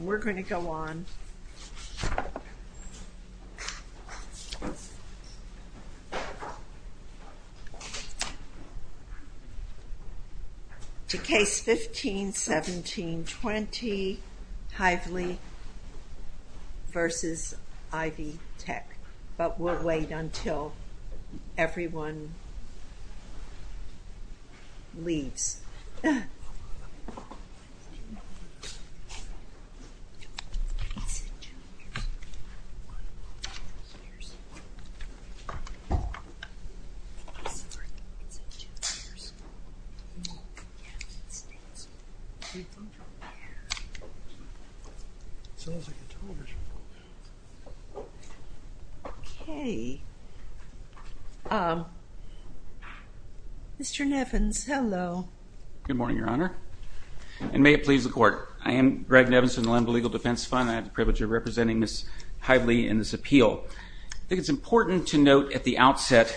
We're going to go on to Case 15-17-20, Hively v. Ivy Tech, but we'll wait until everyone leaves. Mr. Nevins, hello. Good morning, Your Honor, and may it please the Court. I am Greg Nevins from the Lemba Legal Defense Fund. I have the privilege of representing Ms. Hively in this appeal. I think it's important to note at the outset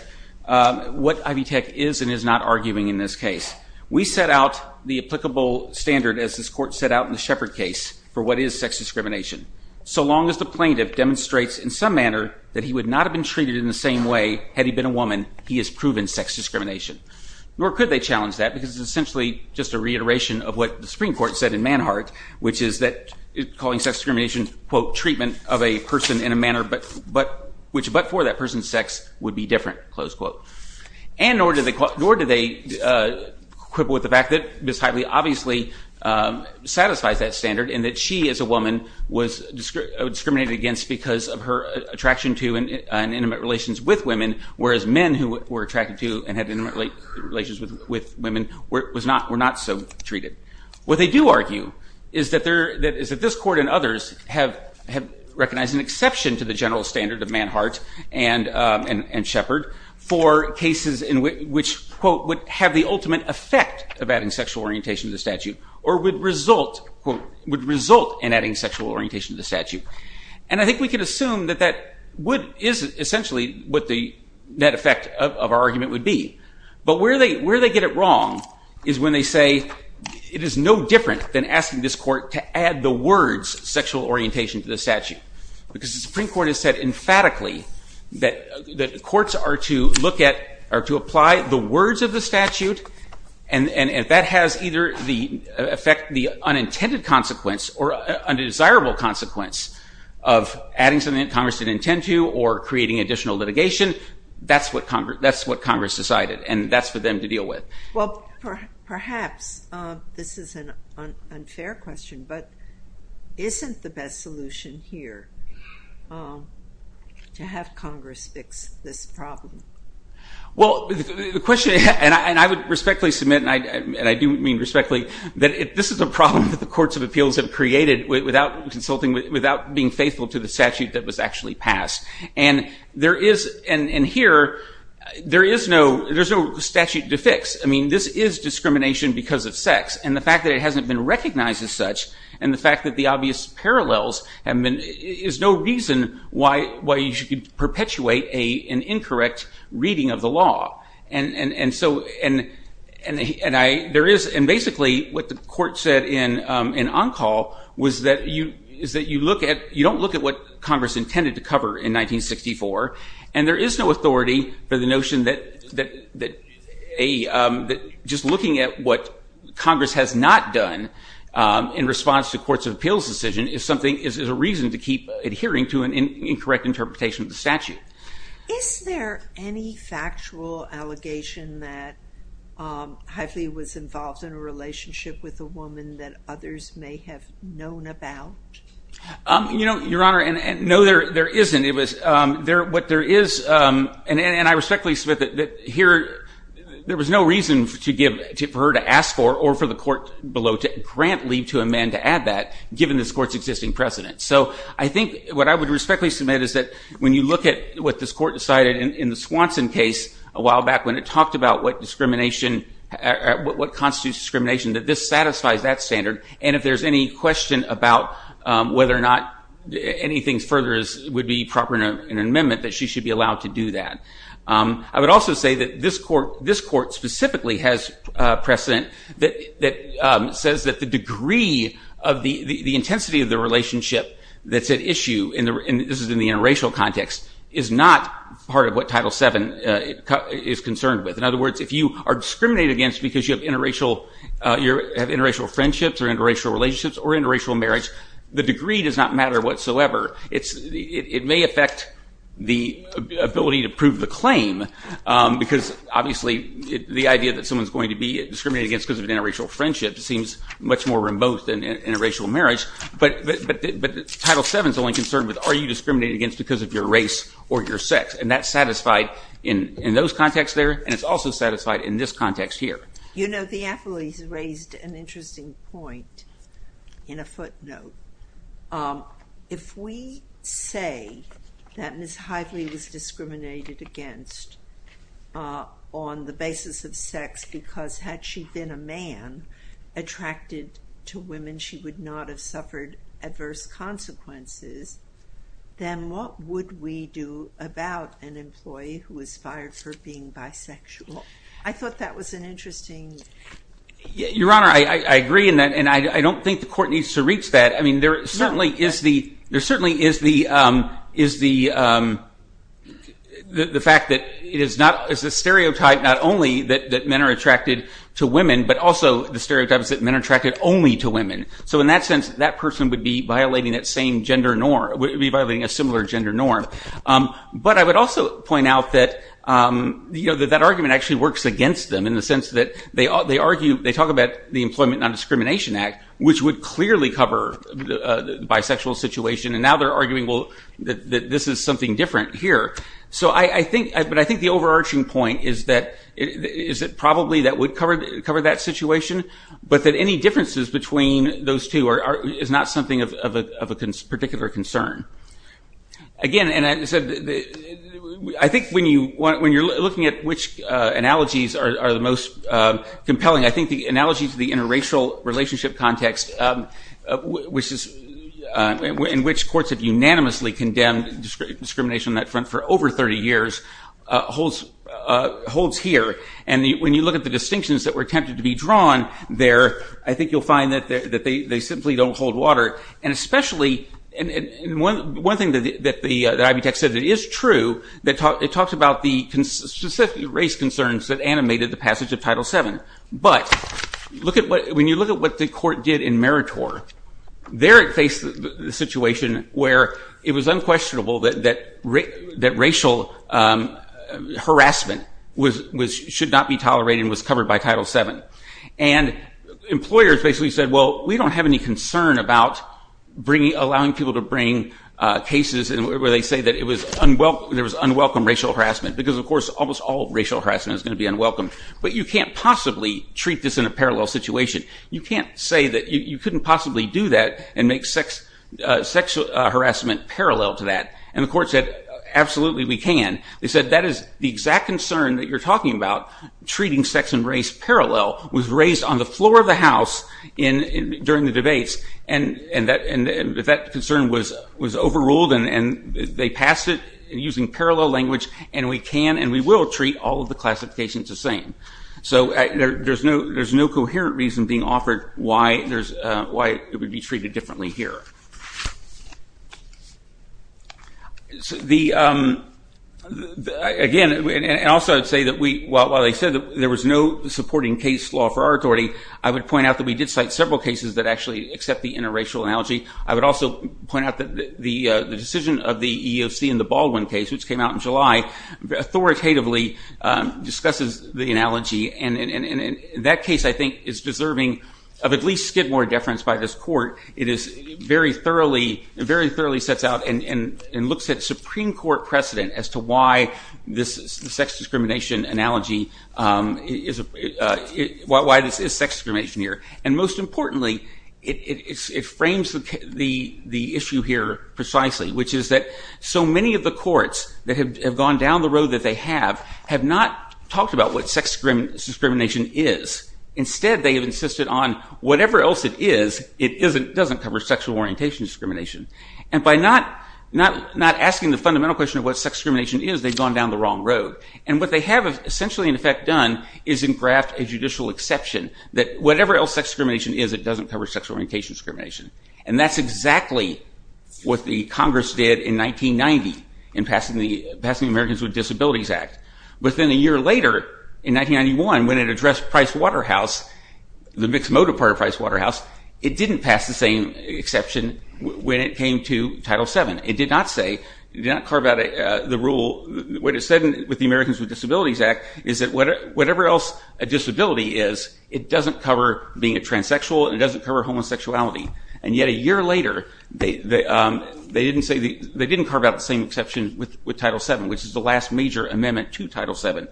what Ivy Tech is and is not arguing in this case. We set out the applicable standard, as this Court set out in the Shepard case, for what is sex discrimination. So long as the plaintiff demonstrates in some manner that he would not have been treated in the same way had he been a woman, he has proven sex discrimination. Nor could they challenge that, because it's essentially just a reiteration of what the Supreme Court said in Manhart, which is that calling sex discrimination, quote, treatment of a person in a manner which but for that person's sex would be different, close quote. And nor do they quibble with the fact that Ms. Hively obviously satisfies that standard, and that she as a woman was discriminated against because of her attraction to and intimate relations with women, whereas men who were attracted to and had intimate relations with women were not so treated. What they do argue is that this Court and others have recognized an exception to the general standard of Manhart and Shepard for cases in which, quote, would have the ultimate effect of adding sexual orientation to the statute or would result, quote, And I think we can assume that that is essentially what the net effect of our argument would be. But where they get it wrong is when they say it is no different than asking this Court to add the words sexual orientation to the statute, because the Supreme Court has said emphatically that the courts are to look at or to apply the words of the statute, and if that has either the effect, the unintended consequence or undesirable consequence of adding something that Congress didn't intend to or creating additional litigation, that's what Congress decided, and that's for them to deal with. Well, perhaps this is an unfair question, but isn't the best solution here to have Congress fix this problem? Well, the question, and I would respectfully submit, and I do mean respectfully, that this is a problem that the courts of appeals have created without being faithful to the statute that was actually passed. And here, there is no statute to fix. I mean, this is discrimination because of sex, and the fact that it hasn't been recognized as such and the fact that the obvious parallels is no reason why you should perpetuate an incorrect reading of the law. And basically, what the court said in on-call was that you don't look at what Congress intended to cover in 1964, and there is no authority for the notion that just looking at what Congress has not done in response to the courts of appeals decision is a reason to keep adhering to an incorrect interpretation of the statute. Is there any factual allegation that Hively was involved in a relationship with a woman that others may have known about? Your Honor, no, there isn't. And I respectfully submit that here, there was no reason for her to ask for or for the court below to grant leave to amend to add that, given this court's existing precedent. So I think what I would respectfully submit is that when you look at what this court decided in the Swanson case a while back, when it talked about what constitutes discrimination, that this satisfies that standard. And if there's any question about whether or not anything further would be proper in an amendment, that she should be allowed to do that. I would also say that this court specifically has precedent that says that the degree of the intensity of the relationship that's at issue, and this is in the interracial context, is not part of what Title VII is concerned with. In other words, if you are discriminated against because you have interracial friendships or interracial relationships or interracial marriage, the degree does not matter whatsoever. It may affect the ability to prove the claim because, obviously, the idea that someone's going to be discriminated against because of an interracial friendship seems much more remote than interracial marriage. But Title VII is only concerned with, are you discriminated against because of your race or your sex? And that's satisfied in those contexts there, and it's also satisfied in this context here. You know, the athletes raised an interesting point in a footnote. If we say that Ms. Hively was discriminated against on the basis of sex because had she been a man attracted to women, she would not have suffered adverse consequences, then what would we do about an employee who was fired for being bisexual? I thought that was an interesting... Your Honor, I agree in that, and I don't think the court needs to reach that. I mean, there certainly is the fact that it is a stereotype not only that men are attracted to women, but also the stereotype is that men are attracted only to women. So in that sense, that person would be violating that same gender norm, would be violating a similar gender norm. But I would also point out that that argument actually works against them in the sense that they argue, they talk about the Employment Non-Discrimination Act, which would clearly cover the bisexual situation, and now they're arguing, well, that this is something different here. But I think the overarching point is that probably that would cover that situation, but that any differences between those two is not something of a particular concern. Again, I think when you're looking at which analogies are the most compelling, I think the analogy to the interracial relationship context, in which courts have unanimously condemned discrimination on that front for over 30 years, holds here. And when you look at the distinctions that were attempted to be drawn there, I think you'll find that they simply don't hold water. And especially, one thing that Ivy Tech said that is true, it talks about the specific race concerns that animated the passage of Title VII. But when you look at what the court did in Meritor, there it faced the situation where it was unquestionable that racial harassment should not be tolerated and was covered by Title VII. And employers basically said, well, we don't have any concern about allowing people to bring cases where they say that there was unwelcome racial harassment, because, of course, almost all racial harassment is going to be unwelcome. But you can't possibly treat this in a parallel situation. You can't say that you couldn't possibly do that and make sexual harassment parallel to that. And the court said, absolutely we can. They said that is the exact concern that you're talking about, treating sex and race parallel, was raised on the floor of the House during the debates. And that concern was overruled, and they passed it using parallel language. And we can and we will treat all of the classifications the same. So there's no coherent reason being offered why it would be treated differently here. Again, and also I'd say that while they said that there was no supporting case law for our authority, I would point out that we did cite several cases that actually accept the interracial analogy. I would also point out that the decision of the EEOC in the Baldwin case, which came out in July, authoritatively discusses the analogy. And that case, I think, is deserving of at least Skidmore deference by this court. It very thoroughly sets out and looks at Supreme Court precedent as to why this sex discrimination analogy is sex discrimination here. And most importantly, it frames the issue here precisely, which is that so many of the courts that have gone down the road that they have have not talked about what sex discrimination is. Instead, they have insisted on whatever else it is, it doesn't cover sexual orientation discrimination. And by not asking the fundamental question of what sex discrimination is, they've gone down the wrong road. And what they have essentially, in effect, done is engraft a judicial exception that whatever else sex discrimination is, it doesn't cover sexual orientation discrimination. And that's exactly what the Congress did in 1990 in passing the Americans with Disabilities Act. Within a year later, in 1991, when it addressed Price Waterhouse, the mixed motive part of Price Waterhouse, it didn't pass the same exception when it came to Title VII. It did not carve out the rule. What it said with the Americans with Disabilities Act is that whatever else a disability is, it doesn't cover being a transsexual and it doesn't cover homosexuality. And yet a year later, they didn't carve out the same exception with Title VII, which is the last major amendment to Title VII.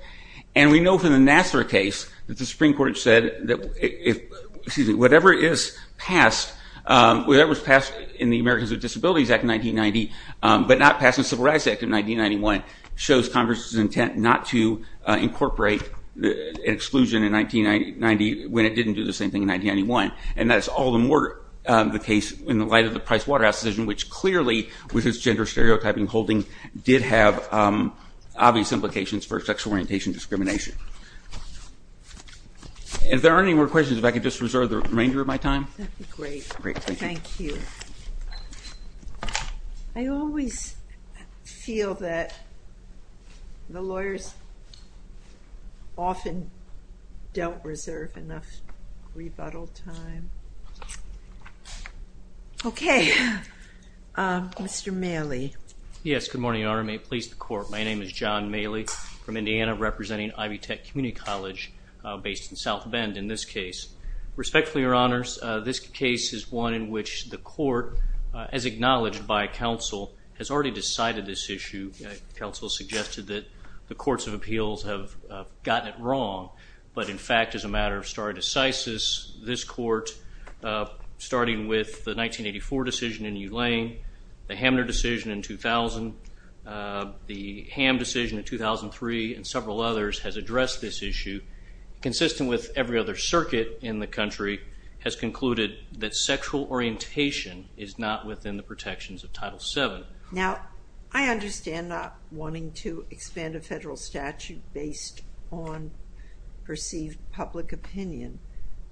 And we know from the Nassar case that the Supreme Court said that whatever is passed in the Americans with Disabilities Act of 1990 but not passed in the Civil Rights Act of 1991 shows Congress's intent not to incorporate an exclusion in 1990 when it didn't do the same thing in 1991. And that's all the more the case in the light of the Price Waterhouse decision, which clearly, with its gender stereotyping holding, did have obvious implications for sexual orientation discrimination. If there aren't any more questions, if I could just reserve the remainder of my time. That would be great. Great, thank you. Thank you. I always feel that the lawyers often don't reserve enough rebuttal time. Okay, Mr. Maley. Yes, good morning, Your Honor. May it please the Court. My name is John Maley from Indiana, representing Ivy Tech Community College, based in South Bend in this case. Respectfully, Your Honors, this case is one in which the Court, as acknowledged by counsel, has already decided this issue. Counsel suggested that the courts of appeals have gotten it wrong. But, in fact, as a matter of stare decisis, this Court, starting with the 1984 decision in U Lane, the Hamner decision in 2000, the Ham decision in 2003, and several others, has addressed this issue, consistent with every other circuit in the country, has concluded that sexual orientation is not within the protections of Title VII. Now, I understand not wanting to expand a federal statute based on perceived public opinion,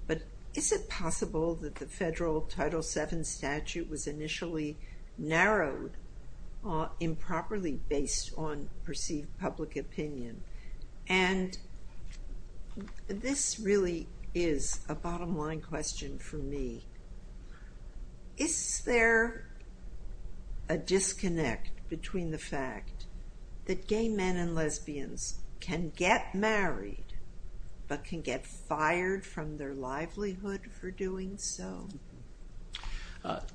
but is it possible that the federal Title VII statute was initially narrowed improperly based on perceived public opinion? And this really is a bottom line question for me. Is there a disconnect between the fact that gay men and lesbians can get married but can get fired from their livelihood for doing so?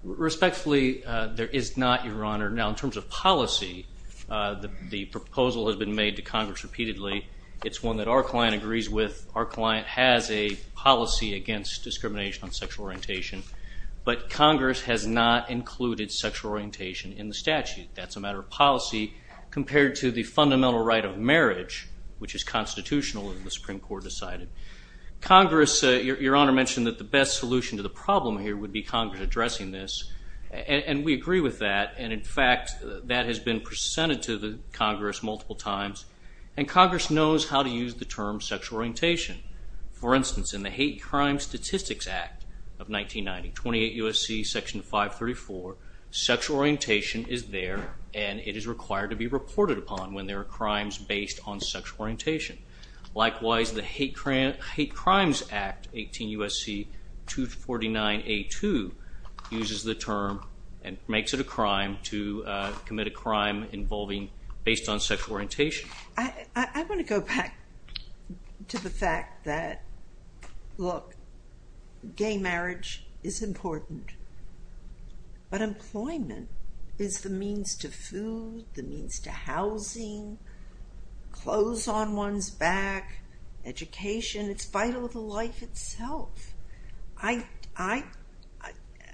Respectfully, there is not, Your Honor. Now, in terms of policy, the proposal has been made to Congress repeatedly. It's one that our client agrees with. Our client has a policy against discrimination on sexual orientation, but Congress has not included sexual orientation in the statute. That's a matter of policy compared to the fundamental right of marriage, which is constitutional and the Supreme Court decided. Congress, Your Honor mentioned that the best solution to the problem here would be Congress addressing this, and we agree with that. In fact, that has been presented to Congress multiple times, and Congress knows how to use the term sexual orientation. For instance, in the Hate Crimes Statistics Act of 1990, 28 U.S.C. Section 534, sexual orientation is there and it is required to be reported upon when there are crimes based on sexual orientation. Likewise, the Hate Crimes Act, 18 U.S.C. 249A2, uses the term and makes it a crime to commit a crime involving based on sexual orientation. I want to go back to the fact that, look, gay marriage is important, but employment is the means to food, the means to housing, clothes on one's back, education. It's vital to life itself.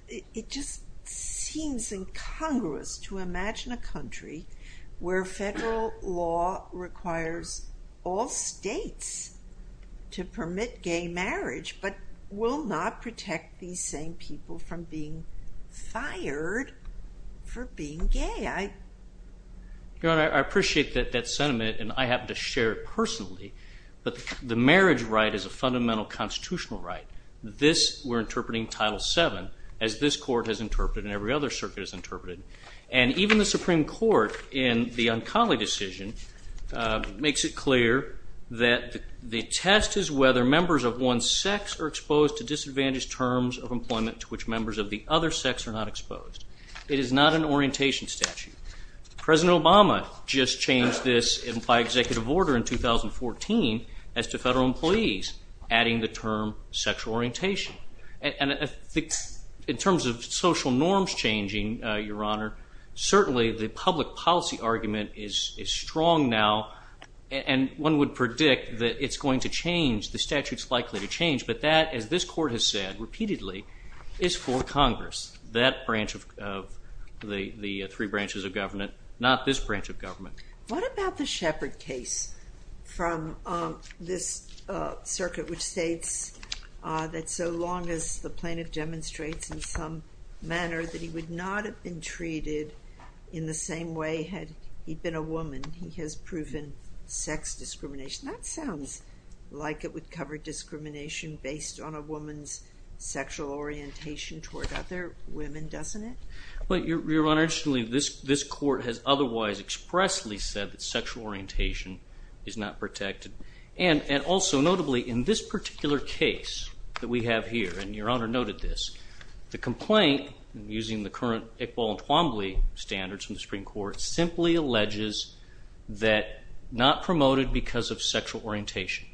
It just seems incongruous to imagine a country where federal law requires all states to permit gay marriage but will not protect these same people from being fired for being gay. Your Honor, I appreciate that sentiment and I have to share it personally, but the marriage right is a fundamental constitutional right. This, we're interpreting Title VII, as this Court has interpreted and every other circuit has interpreted. And even the Supreme Court, in the Uncollie decision, makes it clear that the test is whether members of one's sex are exposed to disadvantaged terms of employment to which members of the other sex are not exposed. It is not an orientation statute. President Obama just changed this by executive order in 2014 as to federal employees, adding the term sexual orientation. And in terms of social norms changing, Your Honor, certainly the public policy argument is strong now and one would predict that it's going to change, the statute's likely to change, but that, as this Court has said repeatedly, is for Congress, that branch of the three branches of government, not this branch of government. What about the Shepard case from this circuit, which states that so long as the plaintiff demonstrates in some manner that he would not have been treated in the same way had he been a woman, he has proven sex discrimination. That sounds like it would cover discrimination based on a woman's sexual orientation toward other women, doesn't it? Your Honor, interestingly, this Court has otherwise expressly said that sexual orientation is not protected. And also, notably, in this particular case that we have here, and Your Honor noted this, the complaint, using the current Iqbal and Twombly standards from the Supreme Court, simply alleges that not promoted because of sexual orientation.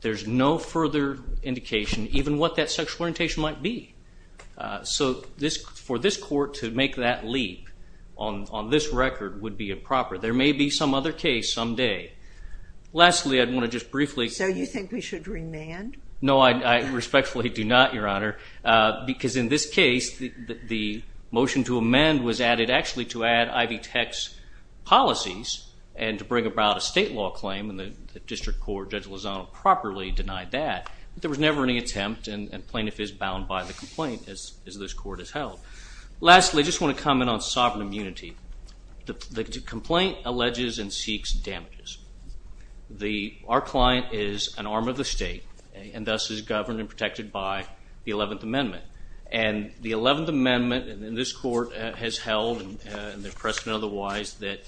There's no further indication even what that sexual orientation might be. So for this Court to make that leap on this record would be improper. There may be some other case someday. Lastly, I want to just briefly... So you think we should remand? No, I respectfully do not, Your Honor, because in this case the motion to amend was added actually to add Ivy Tech's policies and to bring about a state law claim, and the district court, Judge Lozano, properly denied that. But there was never any attempt, and plaintiff is bound by the complaint, as this Court has held. Lastly, I just want to comment on sovereign immunity. The complaint alleges and seeks damages. Our client is an arm of the state and thus is governed and protected by the 11th Amendment. And the 11th Amendment in this Court has held, and there's precedent otherwise, that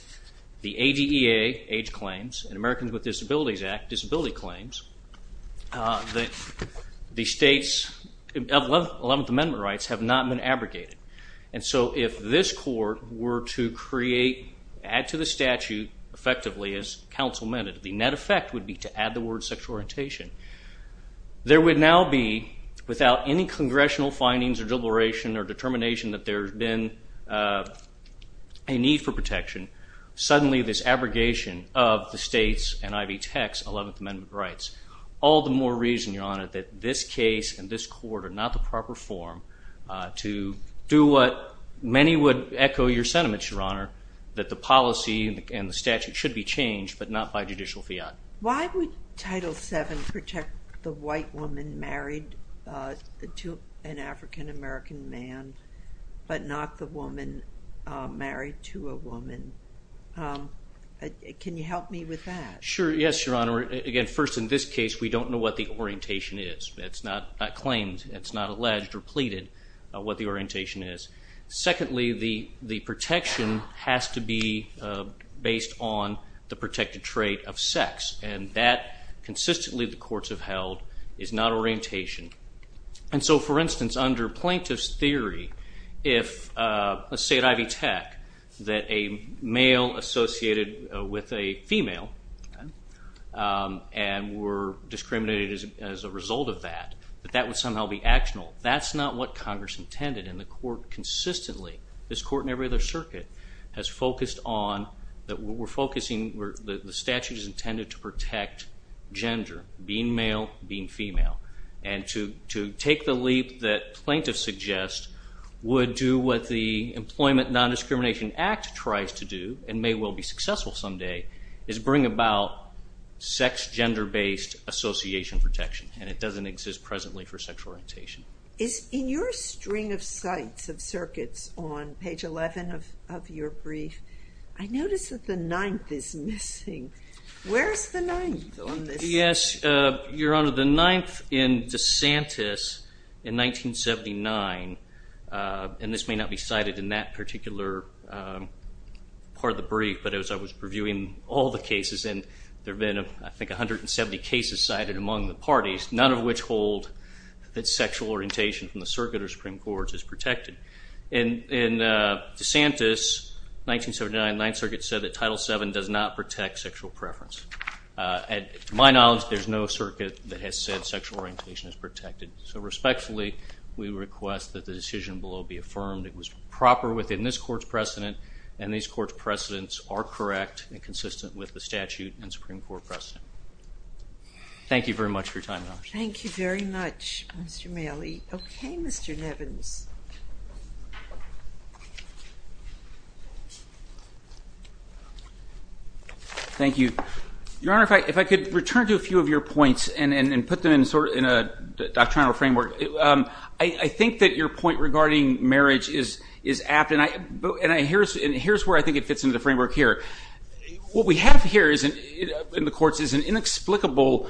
the ADEA, age claims, and Americans with Disabilities Act disability claims, that the state's 11th Amendment rights have not been abrogated. And so if this Court were to create, add to the statute effectively, as counsel meant it, the net effect would be to add the word sexual orientation. There would now be, without any congressional findings or deliberation or determination that there's been a need for protection, suddenly this abrogation of the state's and Ivy Tech's 11th Amendment rights. All the more reason, Your Honor, that this case and this Court are not the proper forum to do what many would echo your sentiments, Your Honor, that the policy and the statute should be changed, but not by judicial fiat. Why would Title VII protect the white woman married to an African-American man, but not the woman married to a woman? Can you help me with that? Sure. Yes, Your Honor. Again, first, in this case, we don't know what the orientation is. It's not claimed. It's not alleged or pleaded what the orientation is. Secondly, the protection has to be based on the protected trait of sex, and that, consistently, the courts have held, is not orientation. For instance, under plaintiff's theory, let's say at Ivy Tech that a male associated with a female and were discriminated as a result of that, that that would somehow be actional. That's not what Congress intended, and the Court consistently, this Court and every other circuit, has focused on that the statute is intended to protect gender, being male, being female, and to take the leap that plaintiffs suggest would do what the Employment Non-Discrimination Act tries to do and may well be successful someday, is bring about sex-gender-based association protection, and it doesn't exist presently for sexual orientation. In your string of sites of circuits on page 11 of your brief, I notice that the ninth is missing. Where is the ninth on this? Yes, Your Honor, the ninth in DeSantis in 1979, and this may not be cited in that particular part of the brief, but as I was reviewing all the cases, and there have been, I think, 170 cases cited among the parties, none of which hold that sexual orientation from the circuit or Supreme Court is protected. In DeSantis, 1979, the Ninth Circuit said that Title VII does not protect sexual preference. To my knowledge, there's no circuit that has said sexual orientation is protected. So respectfully, we request that the decision below be affirmed. It was proper within this Court's precedent, and this Court's precedents are correct and consistent with the statute and Supreme Court precedent. Thank you very much for your time, Your Honor. Thank you very much, Mr. Malley. Okay, Mr. Nevins. Thank you. Your Honor, if I could return to a few of your points and put them in a doctrinal framework, I think that your point regarding marriage is apt, and here's where I think it fits into the framework here. What we have here in the courts is an inexplicable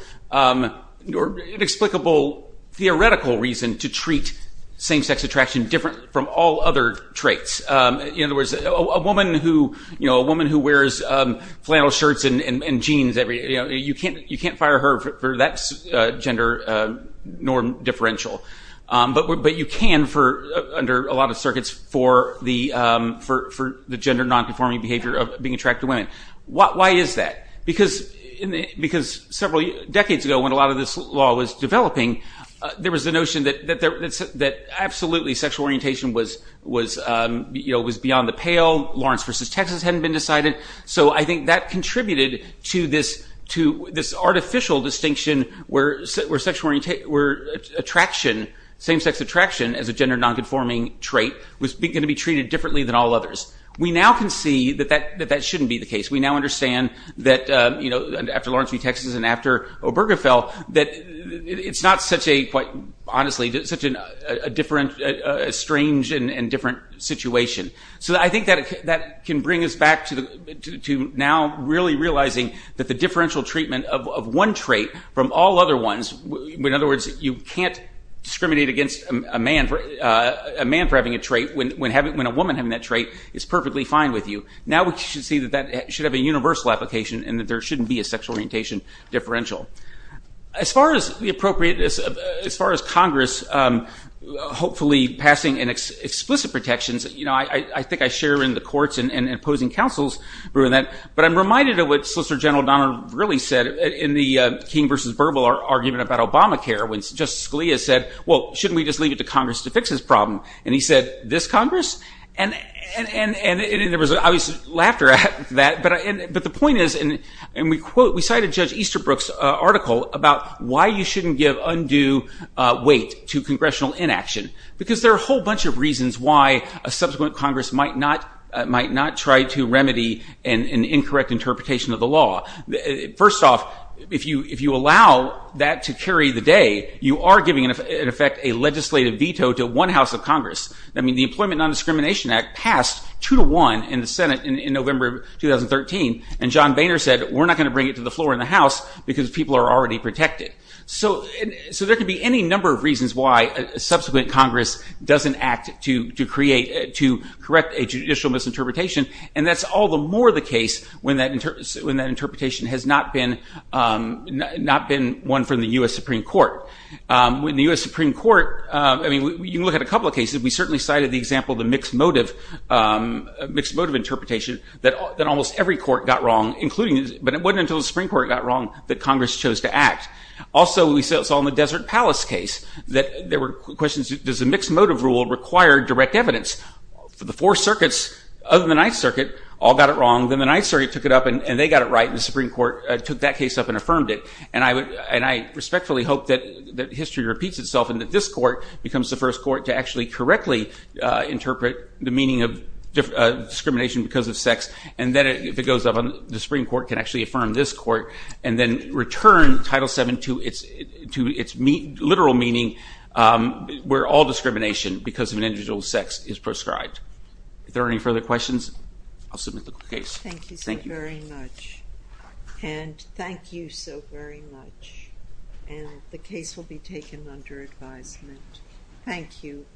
theoretical reason to treat same-sex attraction different from all other traits. In other words, a woman who wears flannel shirts and jeans every day, you can't fire her for that gender norm differential. But you can under a lot of circuits for the gender nonconforming behavior of being attracted to women. Why is that? There was the notion that absolutely sexual orientation was beyond the pale. Lawrence v. Texas hadn't been decided. So I think that contributed to this artificial distinction where same-sex attraction as a gender nonconforming trait was going to be treated differently than all others. We now can see that that shouldn't be the case. We now understand that after Lawrence v. Texas and after Obergefell, that it's not such a, quite honestly, such a strange and different situation. So I think that can bring us back to now really realizing that the differential treatment of one trait from all other ones, in other words, you can't discriminate against a man for having a trait when a woman having that trait is perfectly fine with you. Now we should see that that should have a universal application and that there shouldn't be a sexual orientation differential. As far as the appropriateness, as far as Congress hopefully passing explicit protections, I think I share in the courts and opposing counsels. But I'm reminded of what Solicitor General Donner really said in the King v. Burwell argument about Obamacare when Justice Scalia said, well, shouldn't we just leave it to Congress to fix this problem? And he said, this Congress? And there was obvious laughter at that. But the point is, and we cited Judge Easterbrook's article about why you shouldn't give undue weight to congressional inaction. Because there are a whole bunch of reasons why a subsequent Congress might not try to remedy an incorrect interpretation of the law. First off, if you allow that to carry the day, you are giving, in effect, a legislative veto to one House of Congress. I mean, the Employment Non-Discrimination Act passed 2 to 1 in the Senate in November of 2013. And John Boehner said, we're not going to bring it to the floor in the House because people are already protected. So there could be any number of reasons why a subsequent Congress doesn't act to create, to correct a judicial misinterpretation. And that's all the more the case when that interpretation has not been one from the U.S. Supreme Court. When the U.S. Supreme Court, I mean, you can look at a couple of cases. We certainly cited the example of the mixed-motive interpretation that almost every court got wrong, but it wasn't until the Supreme Court got wrong that Congress chose to act. Also, we saw in the Desert Palace case that there were questions, does a mixed-motive rule require direct evidence? The Four Circuits, other than the Ninth Circuit, all got it wrong. Then the Ninth Circuit took it up, and they got it right. And the Supreme Court took that case up and affirmed it. And I respectfully hope that history repeats itself and that this court becomes the first court to actually correctly interpret the meaning of discrimination because of sex. And then if it goes up, the Supreme Court can actually affirm this court and then return Title VII to its literal meaning, where all discrimination because of an individual's sex is prescribed. Are there any further questions? I'll submit the case. Thank you so very much. And thank you so very much. And the case will be taken under advisement. Thank you.